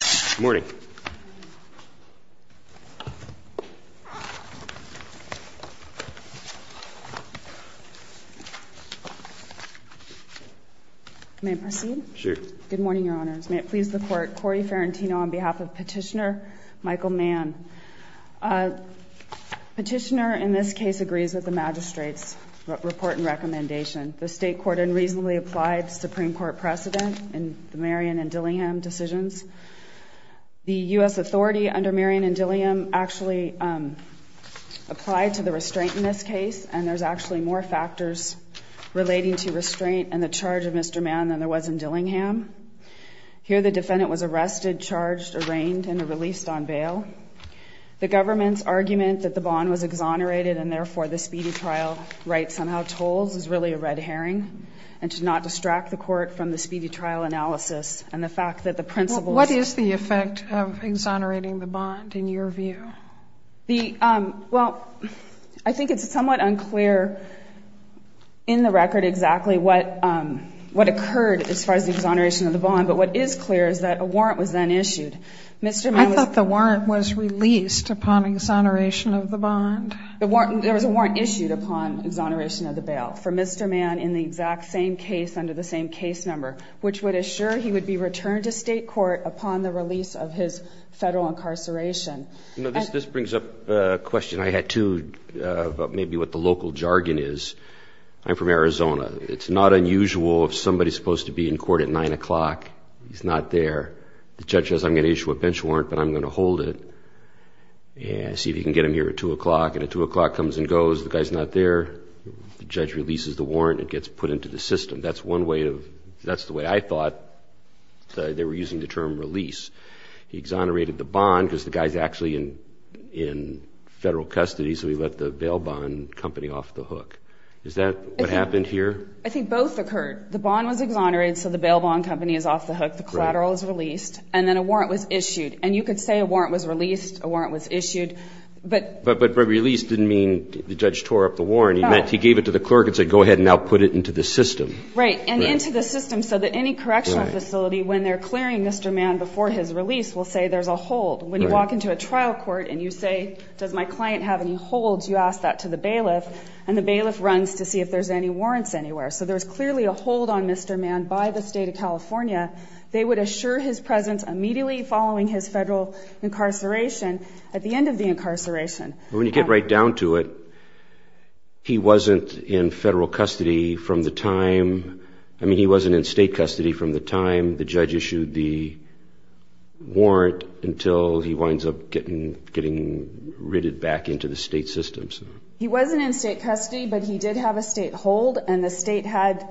Good morning. May I proceed? Sure. Good morning, Your Honors. May it please the Court, Cory Ferrentino on behalf of Petitioner Michael Mann. Petitioner in this case agrees with the magistrate's report and recommendation. The State Court unreasonably applied the Supreme Court precedent in the Marion and Dillingham decisions. The U.S. Authority under Marion and Dillingham actually applied to the restraint in this case, and there's actually more factors relating to restraint and the charge of Mr. Mann than there was in Dillingham. Here the defendant was arrested, charged, arraigned, and released on bail. The government's argument that the bond was exonerated and, therefore, the speedy trial right somehow tolls is really a red herring, and should not distract the Court from the speedy trial analysis and the fact that the principles What is the effect of exonerating the bond in your view? The, well, I think it's somewhat unclear in the record exactly what occurred as far as the exoneration of the bond, but what is clear is that a warrant was then issued. Mr. Mann was I thought the warrant was released upon exoneration of the bond. There was a warrant issued upon exoneration of the bail for Mr. Mann in the exact same case under the same case number, which would assure he would be returned to State court upon the release of his Federal incarceration. This brings up a question I had, too, about maybe what the local jargon is. I'm from Arizona. It's not unusual if somebody's supposed to be in court at 9 o'clock. He's not there. The judge says I'm going to issue a bench warrant, but I'm going to hold it and see if he can get him here at 2 o'clock, and at 2 o'clock comes and goes. The guy's not there. The judge releases the warrant. It gets put into the system. That's one way of, that's the way I thought they were using the term release. He exonerated the bond because the guy's actually in Federal custody, so he let the bail bond company off the hook. Is that what happened here? I think both occurred. The bond was exonerated, so the bail bond company is off the hook. The collateral is released, and then a warrant was issued. And you could say a warrant was released, a warrant was issued. But release didn't mean the judge tore up the warrant. He gave it to the clerk and said go ahead and now put it into the system. Right, and into the system so that any correctional facility, when they're clearing Mr. Mann before his release, will say there's a hold. When you walk into a trial court and you say does my client have any holds, you ask that to the bailiff, and the bailiff runs to see if there's any warrants anywhere. So there's clearly a hold on Mr. Mann by the State of California. They would assure his presence immediately following his Federal incarceration at the end of the incarceration. When you get right down to it, he wasn't in Federal custody from the time, I mean, he wasn't in State custody from the time the judge issued the warrant until he winds up getting ridded back into the State system. He wasn't in State custody, but he did have a State hold, and the State had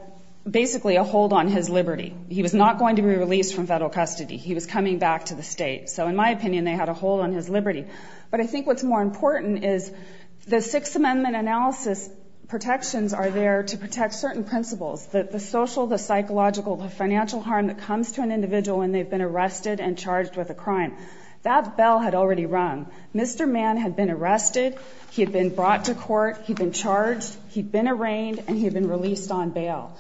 basically a hold on his liberty. He was not going to be released from Federal custody. He was coming back to the State. So in my opinion, they had a hold on his liberty. But I think what's more important is the Sixth Amendment analysis protections are there to protect certain principles, the social, the psychological, the financial harm that comes to an individual when they've been arrested and charged with a crime. That bell had already rung. Mr. Mann had been arrested. He had been brought to court. He'd been charged. He'd been arraigned, and he had been released on bail.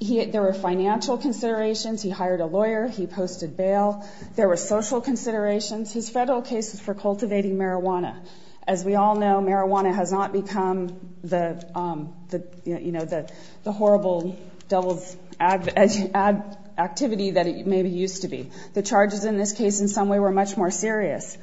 There were financial considerations. He hired a lawyer. He posted bail. There were social considerations. His Federal case was for cultivating marijuana. As we all know, marijuana has not become the horrible devil's activity that it maybe used to be. The charges in this case in some way were much more serious.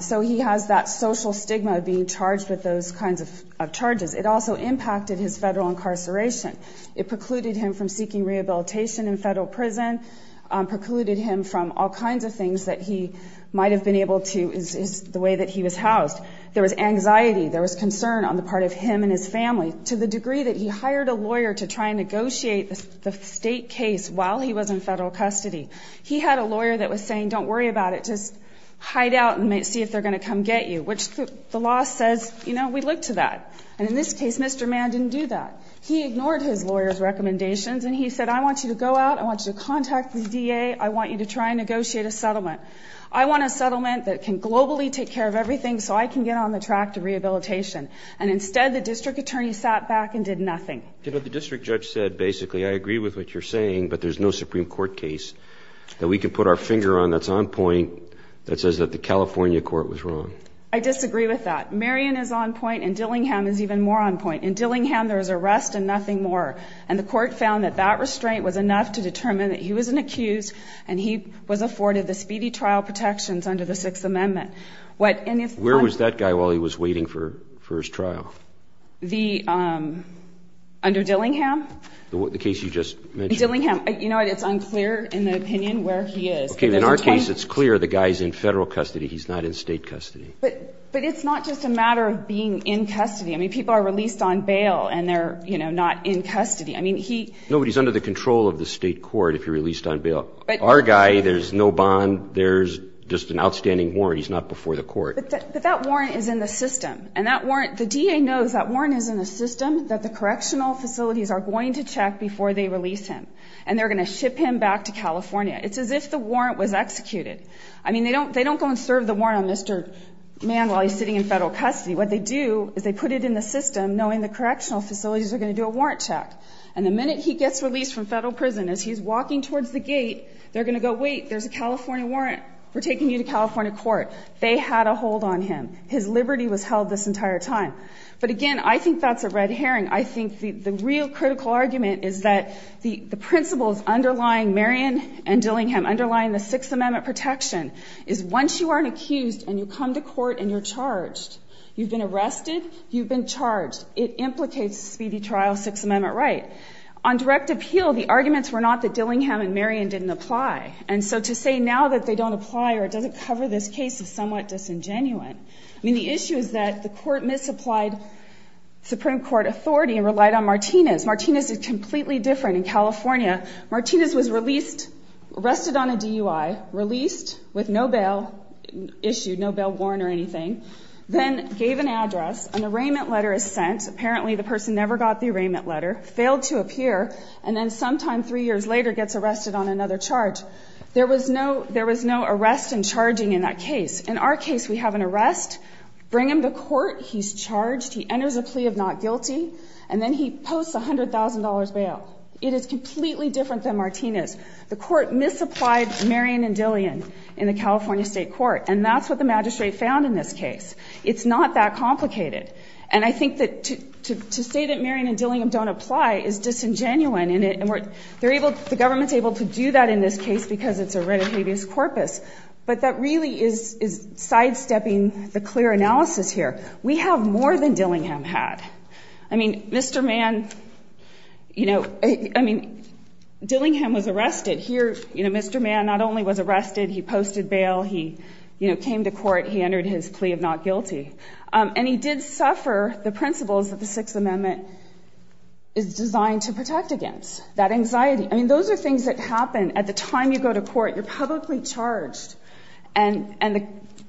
So he has that social stigma of being charged with those kinds of charges. It also impacted his Federal incarceration. It precluded him from seeking rehabilitation in Federal prison, precluded him from all kinds of things that he might have been able to, the way that he was housed. There was anxiety. There was concern on the part of him and his family to the degree that he hired a lawyer to try and negotiate the State case while he was in Federal custody. He had a lawyer that was saying, don't worry about it, just hide out and see if they're going to come get you, which the law says, you know, we look to that. And in this case, Mr. Mann didn't do that. He ignored his lawyer's recommendations, and he said, I want you to go out. I want you to contact the DA. I want you to try and negotiate a settlement. I want a settlement that can globally take care of everything so I can get on the track to rehabilitation. And instead, the district attorney sat back and did nothing. You know, the district judge said, basically, I agree with what you're saying, but there's no Supreme Court case that we can put our finger on that's on point that says that the California court was wrong. I disagree with that. Marion is on point, and Dillingham is even more on point. In Dillingham, there was arrest and nothing more. And the court found that that restraint was enough to determine that he was an accused and he was afforded the speedy trial protections under the Sixth Amendment. Where was that guy while he was waiting for his trial? Under Dillingham? The case you just mentioned. Dillingham. You know what, it's unclear in the opinion where he is. Okay. In our case, it's clear the guy's in federal custody. He's not in state custody. But it's not just a matter of being in custody. I mean, people are released on bail, and they're, you know, not in custody. Nobody's under the control of the state court if you're released on bail. Our guy, there's no bond. There's just an outstanding warrant. He's not before the court. But that warrant is in the system. And that warrant, the DA knows that warrant is in the system, that the correctional facilities are going to check before they release him. And they're going to ship him back to California. It's as if the warrant was executed. I mean, they don't go and serve the warrant on Mr. Man while he's sitting in federal custody. What they do is they put it in the system, knowing the correctional facilities are going to do a warrant check. And the minute he gets released from federal prison, as he's walking towards the gate, they're going to go, wait, there's a California warrant. We're taking you to California court. They had a hold on him. His liberty was held this entire time. But, again, I think that's a red herring. I think the real critical argument is that the principles underlying Marion and Dillingham, underlying the Sixth Amendment protection, is once you aren't accused and you come to court and you're charged, you've been arrested, you've been charged, it implicates speedy trial, Sixth Amendment right. On direct appeal, the arguments were not that Dillingham and Marion didn't apply. And so to say now that they don't apply or it doesn't cover this case is somewhat disingenuous. I mean, the issue is that the court misapplied Supreme Court authority and relied on Martinez. Martinez is completely different. In California, Martinez was released, arrested on a DUI, released with no bail issued, no bail warrant or anything, then gave an address, an arraignment letter is sent, apparently the person never got the arraignment letter, failed to appear, and then sometime three years later gets arrested on another charge. There was no arrest and charging in that case. In our case, we have an arrest, bring him to court, he's charged, he enters a plea of not guilty, and then he posts a $100,000 bail. It is completely different than Martinez. The court misapplied Marion and Dillingham in the California State Court, and that's what the magistrate found in this case. It's not that complicated. And I think that to say that Marion and Dillingham don't apply is disingenuous, and the government's able to do that in this case because it's a red habeas corpus, but that really is sidestepping the clear analysis here. We have more than Dillingham had. I mean, Mr. Mann, you know, I mean, Dillingham was arrested. Here, you know, Mr. Mann not only was arrested, he posted bail, he, you know, came to court, he entered his plea of not guilty. And he did suffer the principles that the Sixth Amendment is designed to protect against, that anxiety. I mean, those are things that happen at the time you go to court. You're publicly charged, and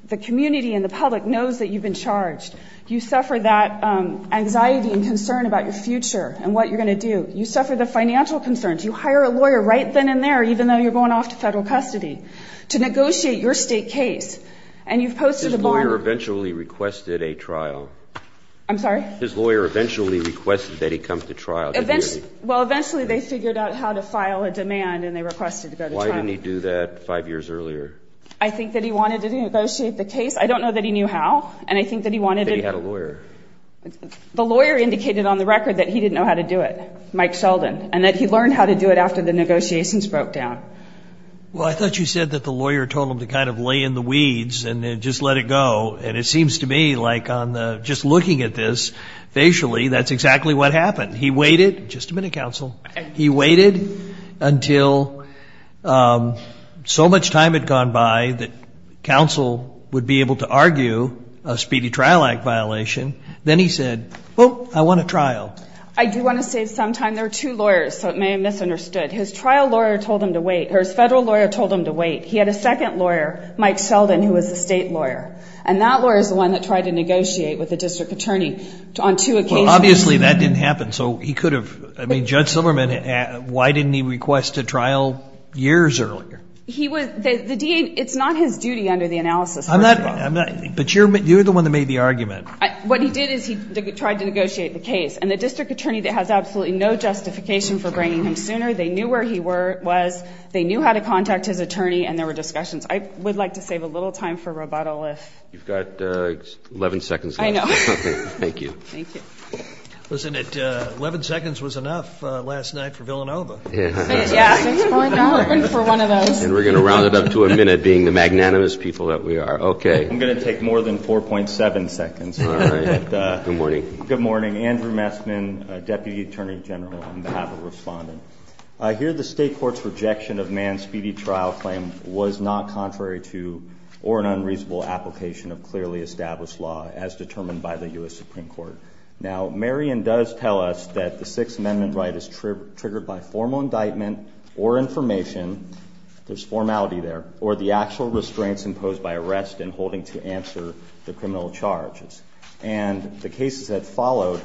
the community and the public knows that you've been charged. You suffer that anxiety and concern about your future and what you're going to do. You suffer the financial concerns. You hire a lawyer right then and there, even though you're going off to federal custody, to negotiate your state case, and you've posted a bond. His lawyer eventually requested a trial. I'm sorry? His lawyer eventually requested that he come to trial. Well, eventually they figured out how to file a demand, and they requested to go to trial. Why didn't he do that five years earlier? I think that he wanted to negotiate the case. I don't know that he knew how, and I think that he wanted to do it. That he had a lawyer. The lawyer indicated on the record that he didn't know how to do it, Mike Sheldon, and that he learned how to do it after the negotiations broke down. Well, I thought you said that the lawyer told him to kind of lay in the weeds and just let it go, and it seems to me like just looking at this facially, that's exactly what happened. He waited. Just a minute, counsel. He waited until so much time had gone by that counsel would be able to argue a speedy trial act violation. Then he said, well, I want a trial. I do want to say sometime there are two lawyers, so it may have misunderstood. His trial lawyer told him to wait. His federal lawyer told him to wait. He had a second lawyer, Mike Sheldon, who was a state lawyer, and that lawyer is the one that tried to negotiate with the district attorney on two occasions. Well, obviously that didn't happen, so he could have. I mean, Judge Silberman, why didn't he request a trial years earlier? He was the DA. It's not his duty under the analysis. But you're the one that made the argument. What he did is he tried to negotiate the case, and the district attorney has absolutely no justification for bringing him sooner. They knew where he was. They knew how to contact his attorney, and there were discussions. I would like to save a little time for rebuttal if. You've got 11 seconds left. I know. Thank you. Thank you. Wasn't it 11 seconds was enough last night for Villanova? Yeah. For one of us. And we're going to round it up to a minute being the magnanimous people that we are. Okay. I'm going to take more than 4.7 seconds. All right. Good morning. Good morning. Andrew Messman, Deputy Attorney General, on behalf of Respondent. I hear the state court's rejection of Mann's speedy trial claim was not contrary to or an unreasonable application of clearly established law as determined by the U.S. Supreme Court. Now, Marion does tell us that the Sixth Amendment right is triggered by formal indictment or information. There's formality there. Or the actual restraints imposed by arrest in holding to answer the criminal charges. And the cases that followed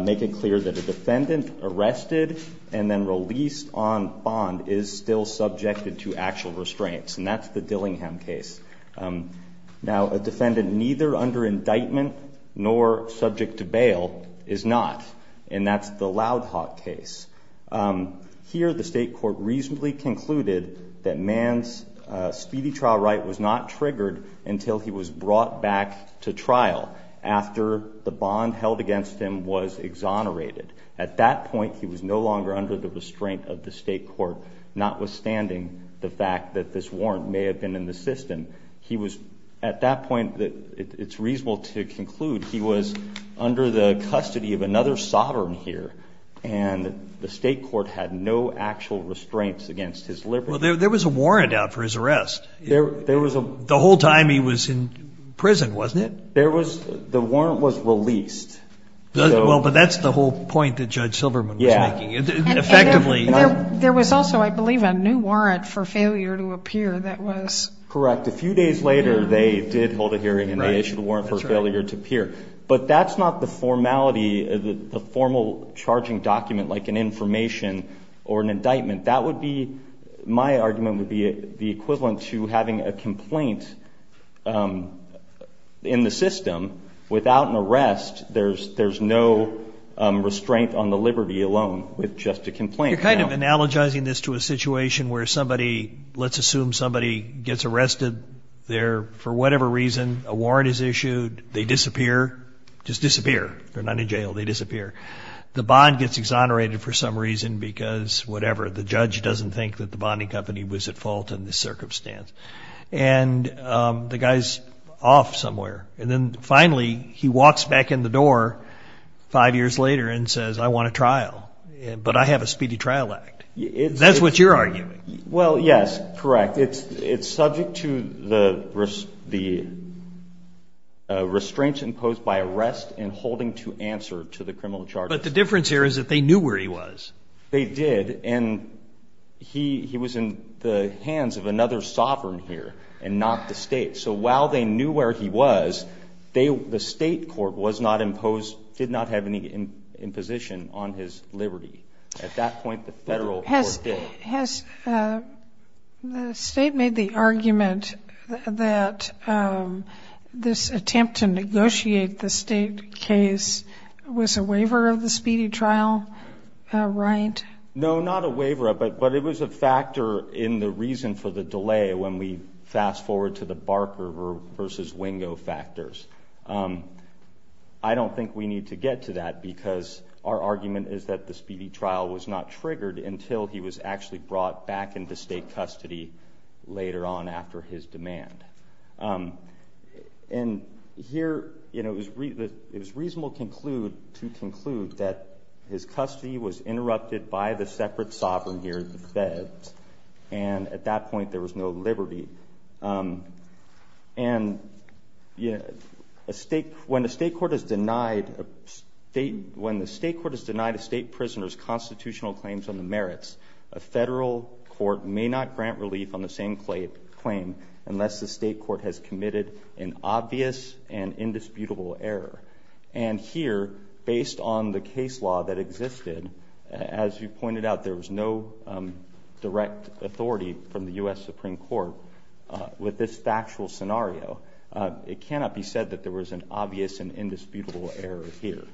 make it clear that a defendant arrested and then released on bond is still subjected to actual restraints. And that's the Dillingham case. Now, a defendant neither under indictment nor subject to bail is not. And that's the Loudhawk case. Here the state court reasonably concluded that Mann's speedy trial right was not triggered until he was brought back to trial after the bond held against him was exonerated. At that point, he was no longer under the restraint of the state court, notwithstanding the fact that this warrant may have been in the system. He was, at that point, it's reasonable to conclude he was under the custody of another sovereign here. And the state court had no actual restraints against his liberty. Well, there was a warrant out for his arrest. There was a. The whole time he was in prison, wasn't it? There was. The warrant was released. Well, but that's the whole point that Judge Silverman was making. Yeah. Effectively. There was also, I believe, a new warrant for failure to appear that was. Correct. A few days later, they did hold a hearing and they issued a warrant for failure to appear. That's right. And that would be the formal charging document, like an information or an indictment. That would be, my argument would be the equivalent to having a complaint in the system without an arrest. There's no restraint on the liberty alone with just a complaint. You're kind of analogizing this to a situation where somebody, let's assume somebody gets arrested. They're, for whatever reason, a warrant is issued. They disappear. Just disappear. They're not in jail. They disappear. The bond gets exonerated for some reason because whatever. The judge doesn't think that the bonding company was at fault in this circumstance. And the guy's off somewhere. And then finally, he walks back in the door five years later and says, I want a trial. But I have a speedy trial act. That's what you're arguing. Well, yes. Correct. It's subject to the restraints imposed by arrest and holding to answer to the criminal charges. But the difference here is that they knew where he was. They did. And he was in the hands of another sovereign here and not the State. So while they knew where he was, the State court was not imposed, did not have any imposition on his liberty. At that point, the Federal court did. Has the State made the argument that this attempt to negotiate the State case was a waiver of the speedy trial right? No, not a waiver. But it was a factor in the reason for the delay when we fast-forward to the Barker v. Wingo factors. I don't think we need to get to that because our argument is that the speedy trial was not triggered until he was actually brought back into State custody later on after his demand. And here, it was reasonable to conclude that his custody was interrupted by the separate sovereign here, the Feds. And at that point, there was no liberty. And when the State court has denied a State prisoner's constitutional claims on the merits, a Federal court may not grant relief on the same claim unless the State court has committed an obvious and indisputable error. And here, based on the case law that existed, as you pointed out, there was no direct authority from the U.S. Supreme Court with this factual scenario. It cannot be said that there was an obvious and indisputable error here.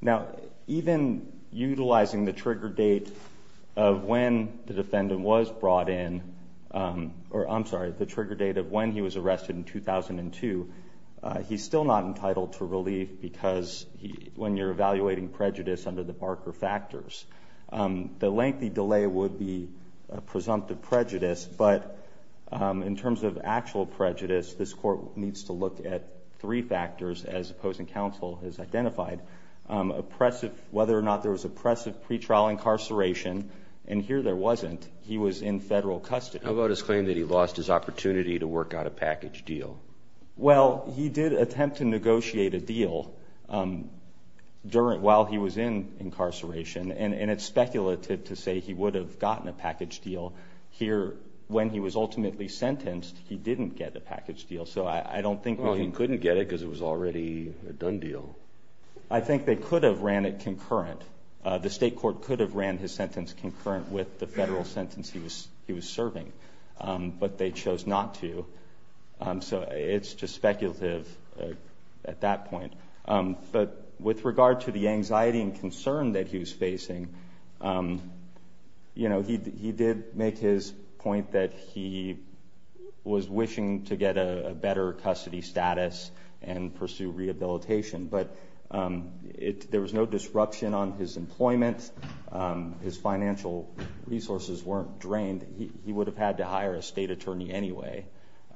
Now, even utilizing the trigger date of when the defendant was brought in, or I'm sorry, the trigger date of when he was arrested in 2002, he's still not entitled to relief because when you're evaluating prejudice under the Barker factors, the lengthy delay would be presumptive prejudice. But in terms of actual prejudice, this court needs to look at three factors, as opposing counsel has identified, whether or not there was oppressive pretrial incarceration. And here, there wasn't. He was in Federal custody. How about his claim that he lost his opportunity to work out a package deal? Well, he did attempt to negotiate a deal while he was in incarceration. And it's speculative to say he would have gotten a package deal. Here, when he was ultimately sentenced, he didn't get a package deal. So I don't think we can— Well, he couldn't get it because it was already a done deal. I think they could have ran it concurrent. The State Court could have ran his sentence concurrent with the Federal sentence he was serving. But they chose not to. So it's just speculative at that point. But with regard to the anxiety and concern that he was facing, he did make his point that he was wishing to get a better custody status and pursue rehabilitation. But there was no disruption on his employment. His financial resources weren't drained. He would have had to hire a state attorney anyway.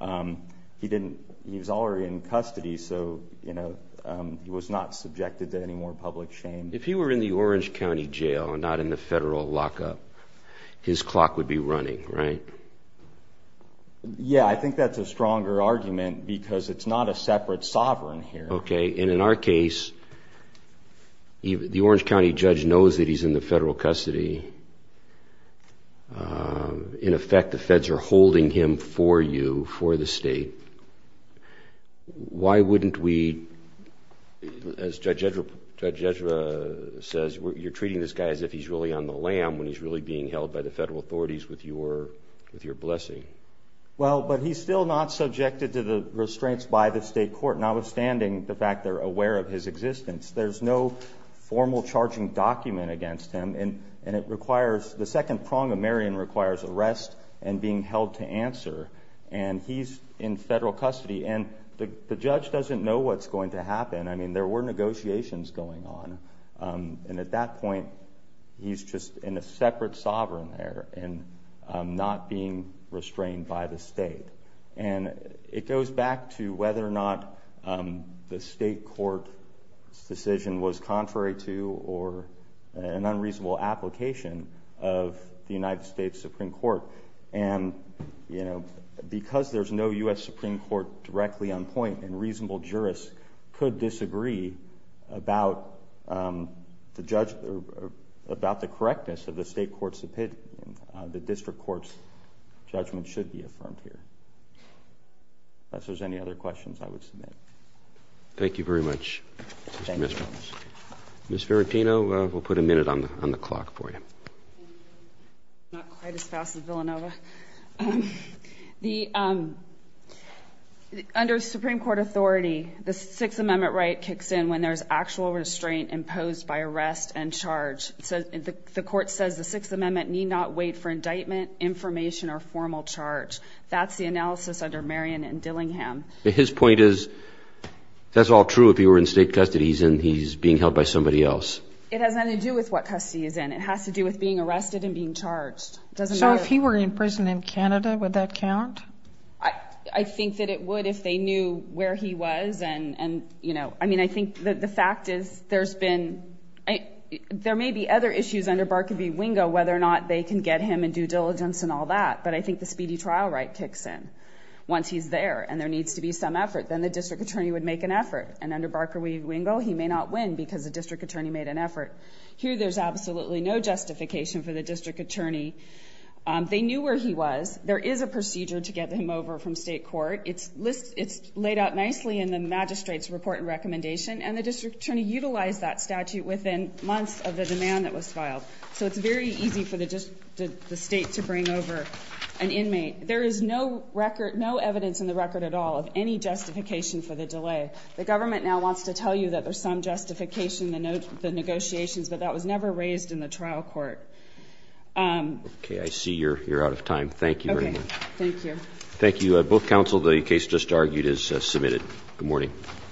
He was already in custody, so he was not subjected to any more public shame. If he were in the Orange County jail and not in the Federal lockup, his clock would be running, right? Yeah, I think that's a stronger argument because it's not a separate sovereign here. Okay, and in our case, the Orange County judge knows that he's in the Federal custody. In effect, the feds are holding him for you, for the state. Why wouldn't we, as Judge Ezra says, you're treating this guy as if he's really on the lam when he's really being held by the Federal authorities with your blessing. Well, but he's still not subjected to the restraints by the State Court, notwithstanding the fact they're aware of his existence. There's no formal charging document against him. The second prong of Marion requires arrest and being held to answer, and he's in Federal custody. And the judge doesn't know what's going to happen. I mean, there were negotiations going on. And at that point, he's just in a separate sovereign there and not being restrained by the state. And it goes back to whether or not the State Court's decision was contrary to or an unreasonable application of the United States Supreme Court. And, you know, because there's no U.S. Supreme Court directly on point, a reasonable jurist could disagree about the correctness of the State Court's opinion. The district court's judgment should be affirmed here. If there's any other questions, I would submit. Thank you very much, Mr. Mismanus. Ms. Verapino, we'll put a minute on the clock for you. Not quite as fast as Villanova. Under Supreme Court authority, the Sixth Amendment right kicks in when there's actual restraint imposed by arrest and charge. The Court says the Sixth Amendment need not wait for indictment, information, or formal charge. That's the analysis under Marion and Dillingham. His point is that's all true if he were in state custody and he's being held by somebody else. It has nothing to do with what custody he's in. It has to do with being arrested and being charged. So if he were in prison in Canada, would that count? I think that it would if they knew where he was. I think the fact is there may be other issues under Barker v. Wingo whether or not they can get him in due diligence and all that, but I think the speedy trial right kicks in once he's there and there needs to be some effort. Then the district attorney would make an effort. And under Barker v. Wingo, he may not win because the district attorney made an effort. Here there's absolutely no justification for the district attorney. They knew where he was. There is a procedure to get him over from state court. It's laid out nicely in the magistrate's report and recommendation, and the district attorney utilized that statute within months of the demand that was filed. So it's very easy for the state to bring over an inmate. There is no evidence in the record at all of any justification for the delay. The government now wants to tell you that there's some justification, the negotiations, but that was never raised in the trial court. Okay, I see you're out of time. Thank you very much. Okay, thank you. Thank you, both counsel. The case just argued is submitted. Good morning.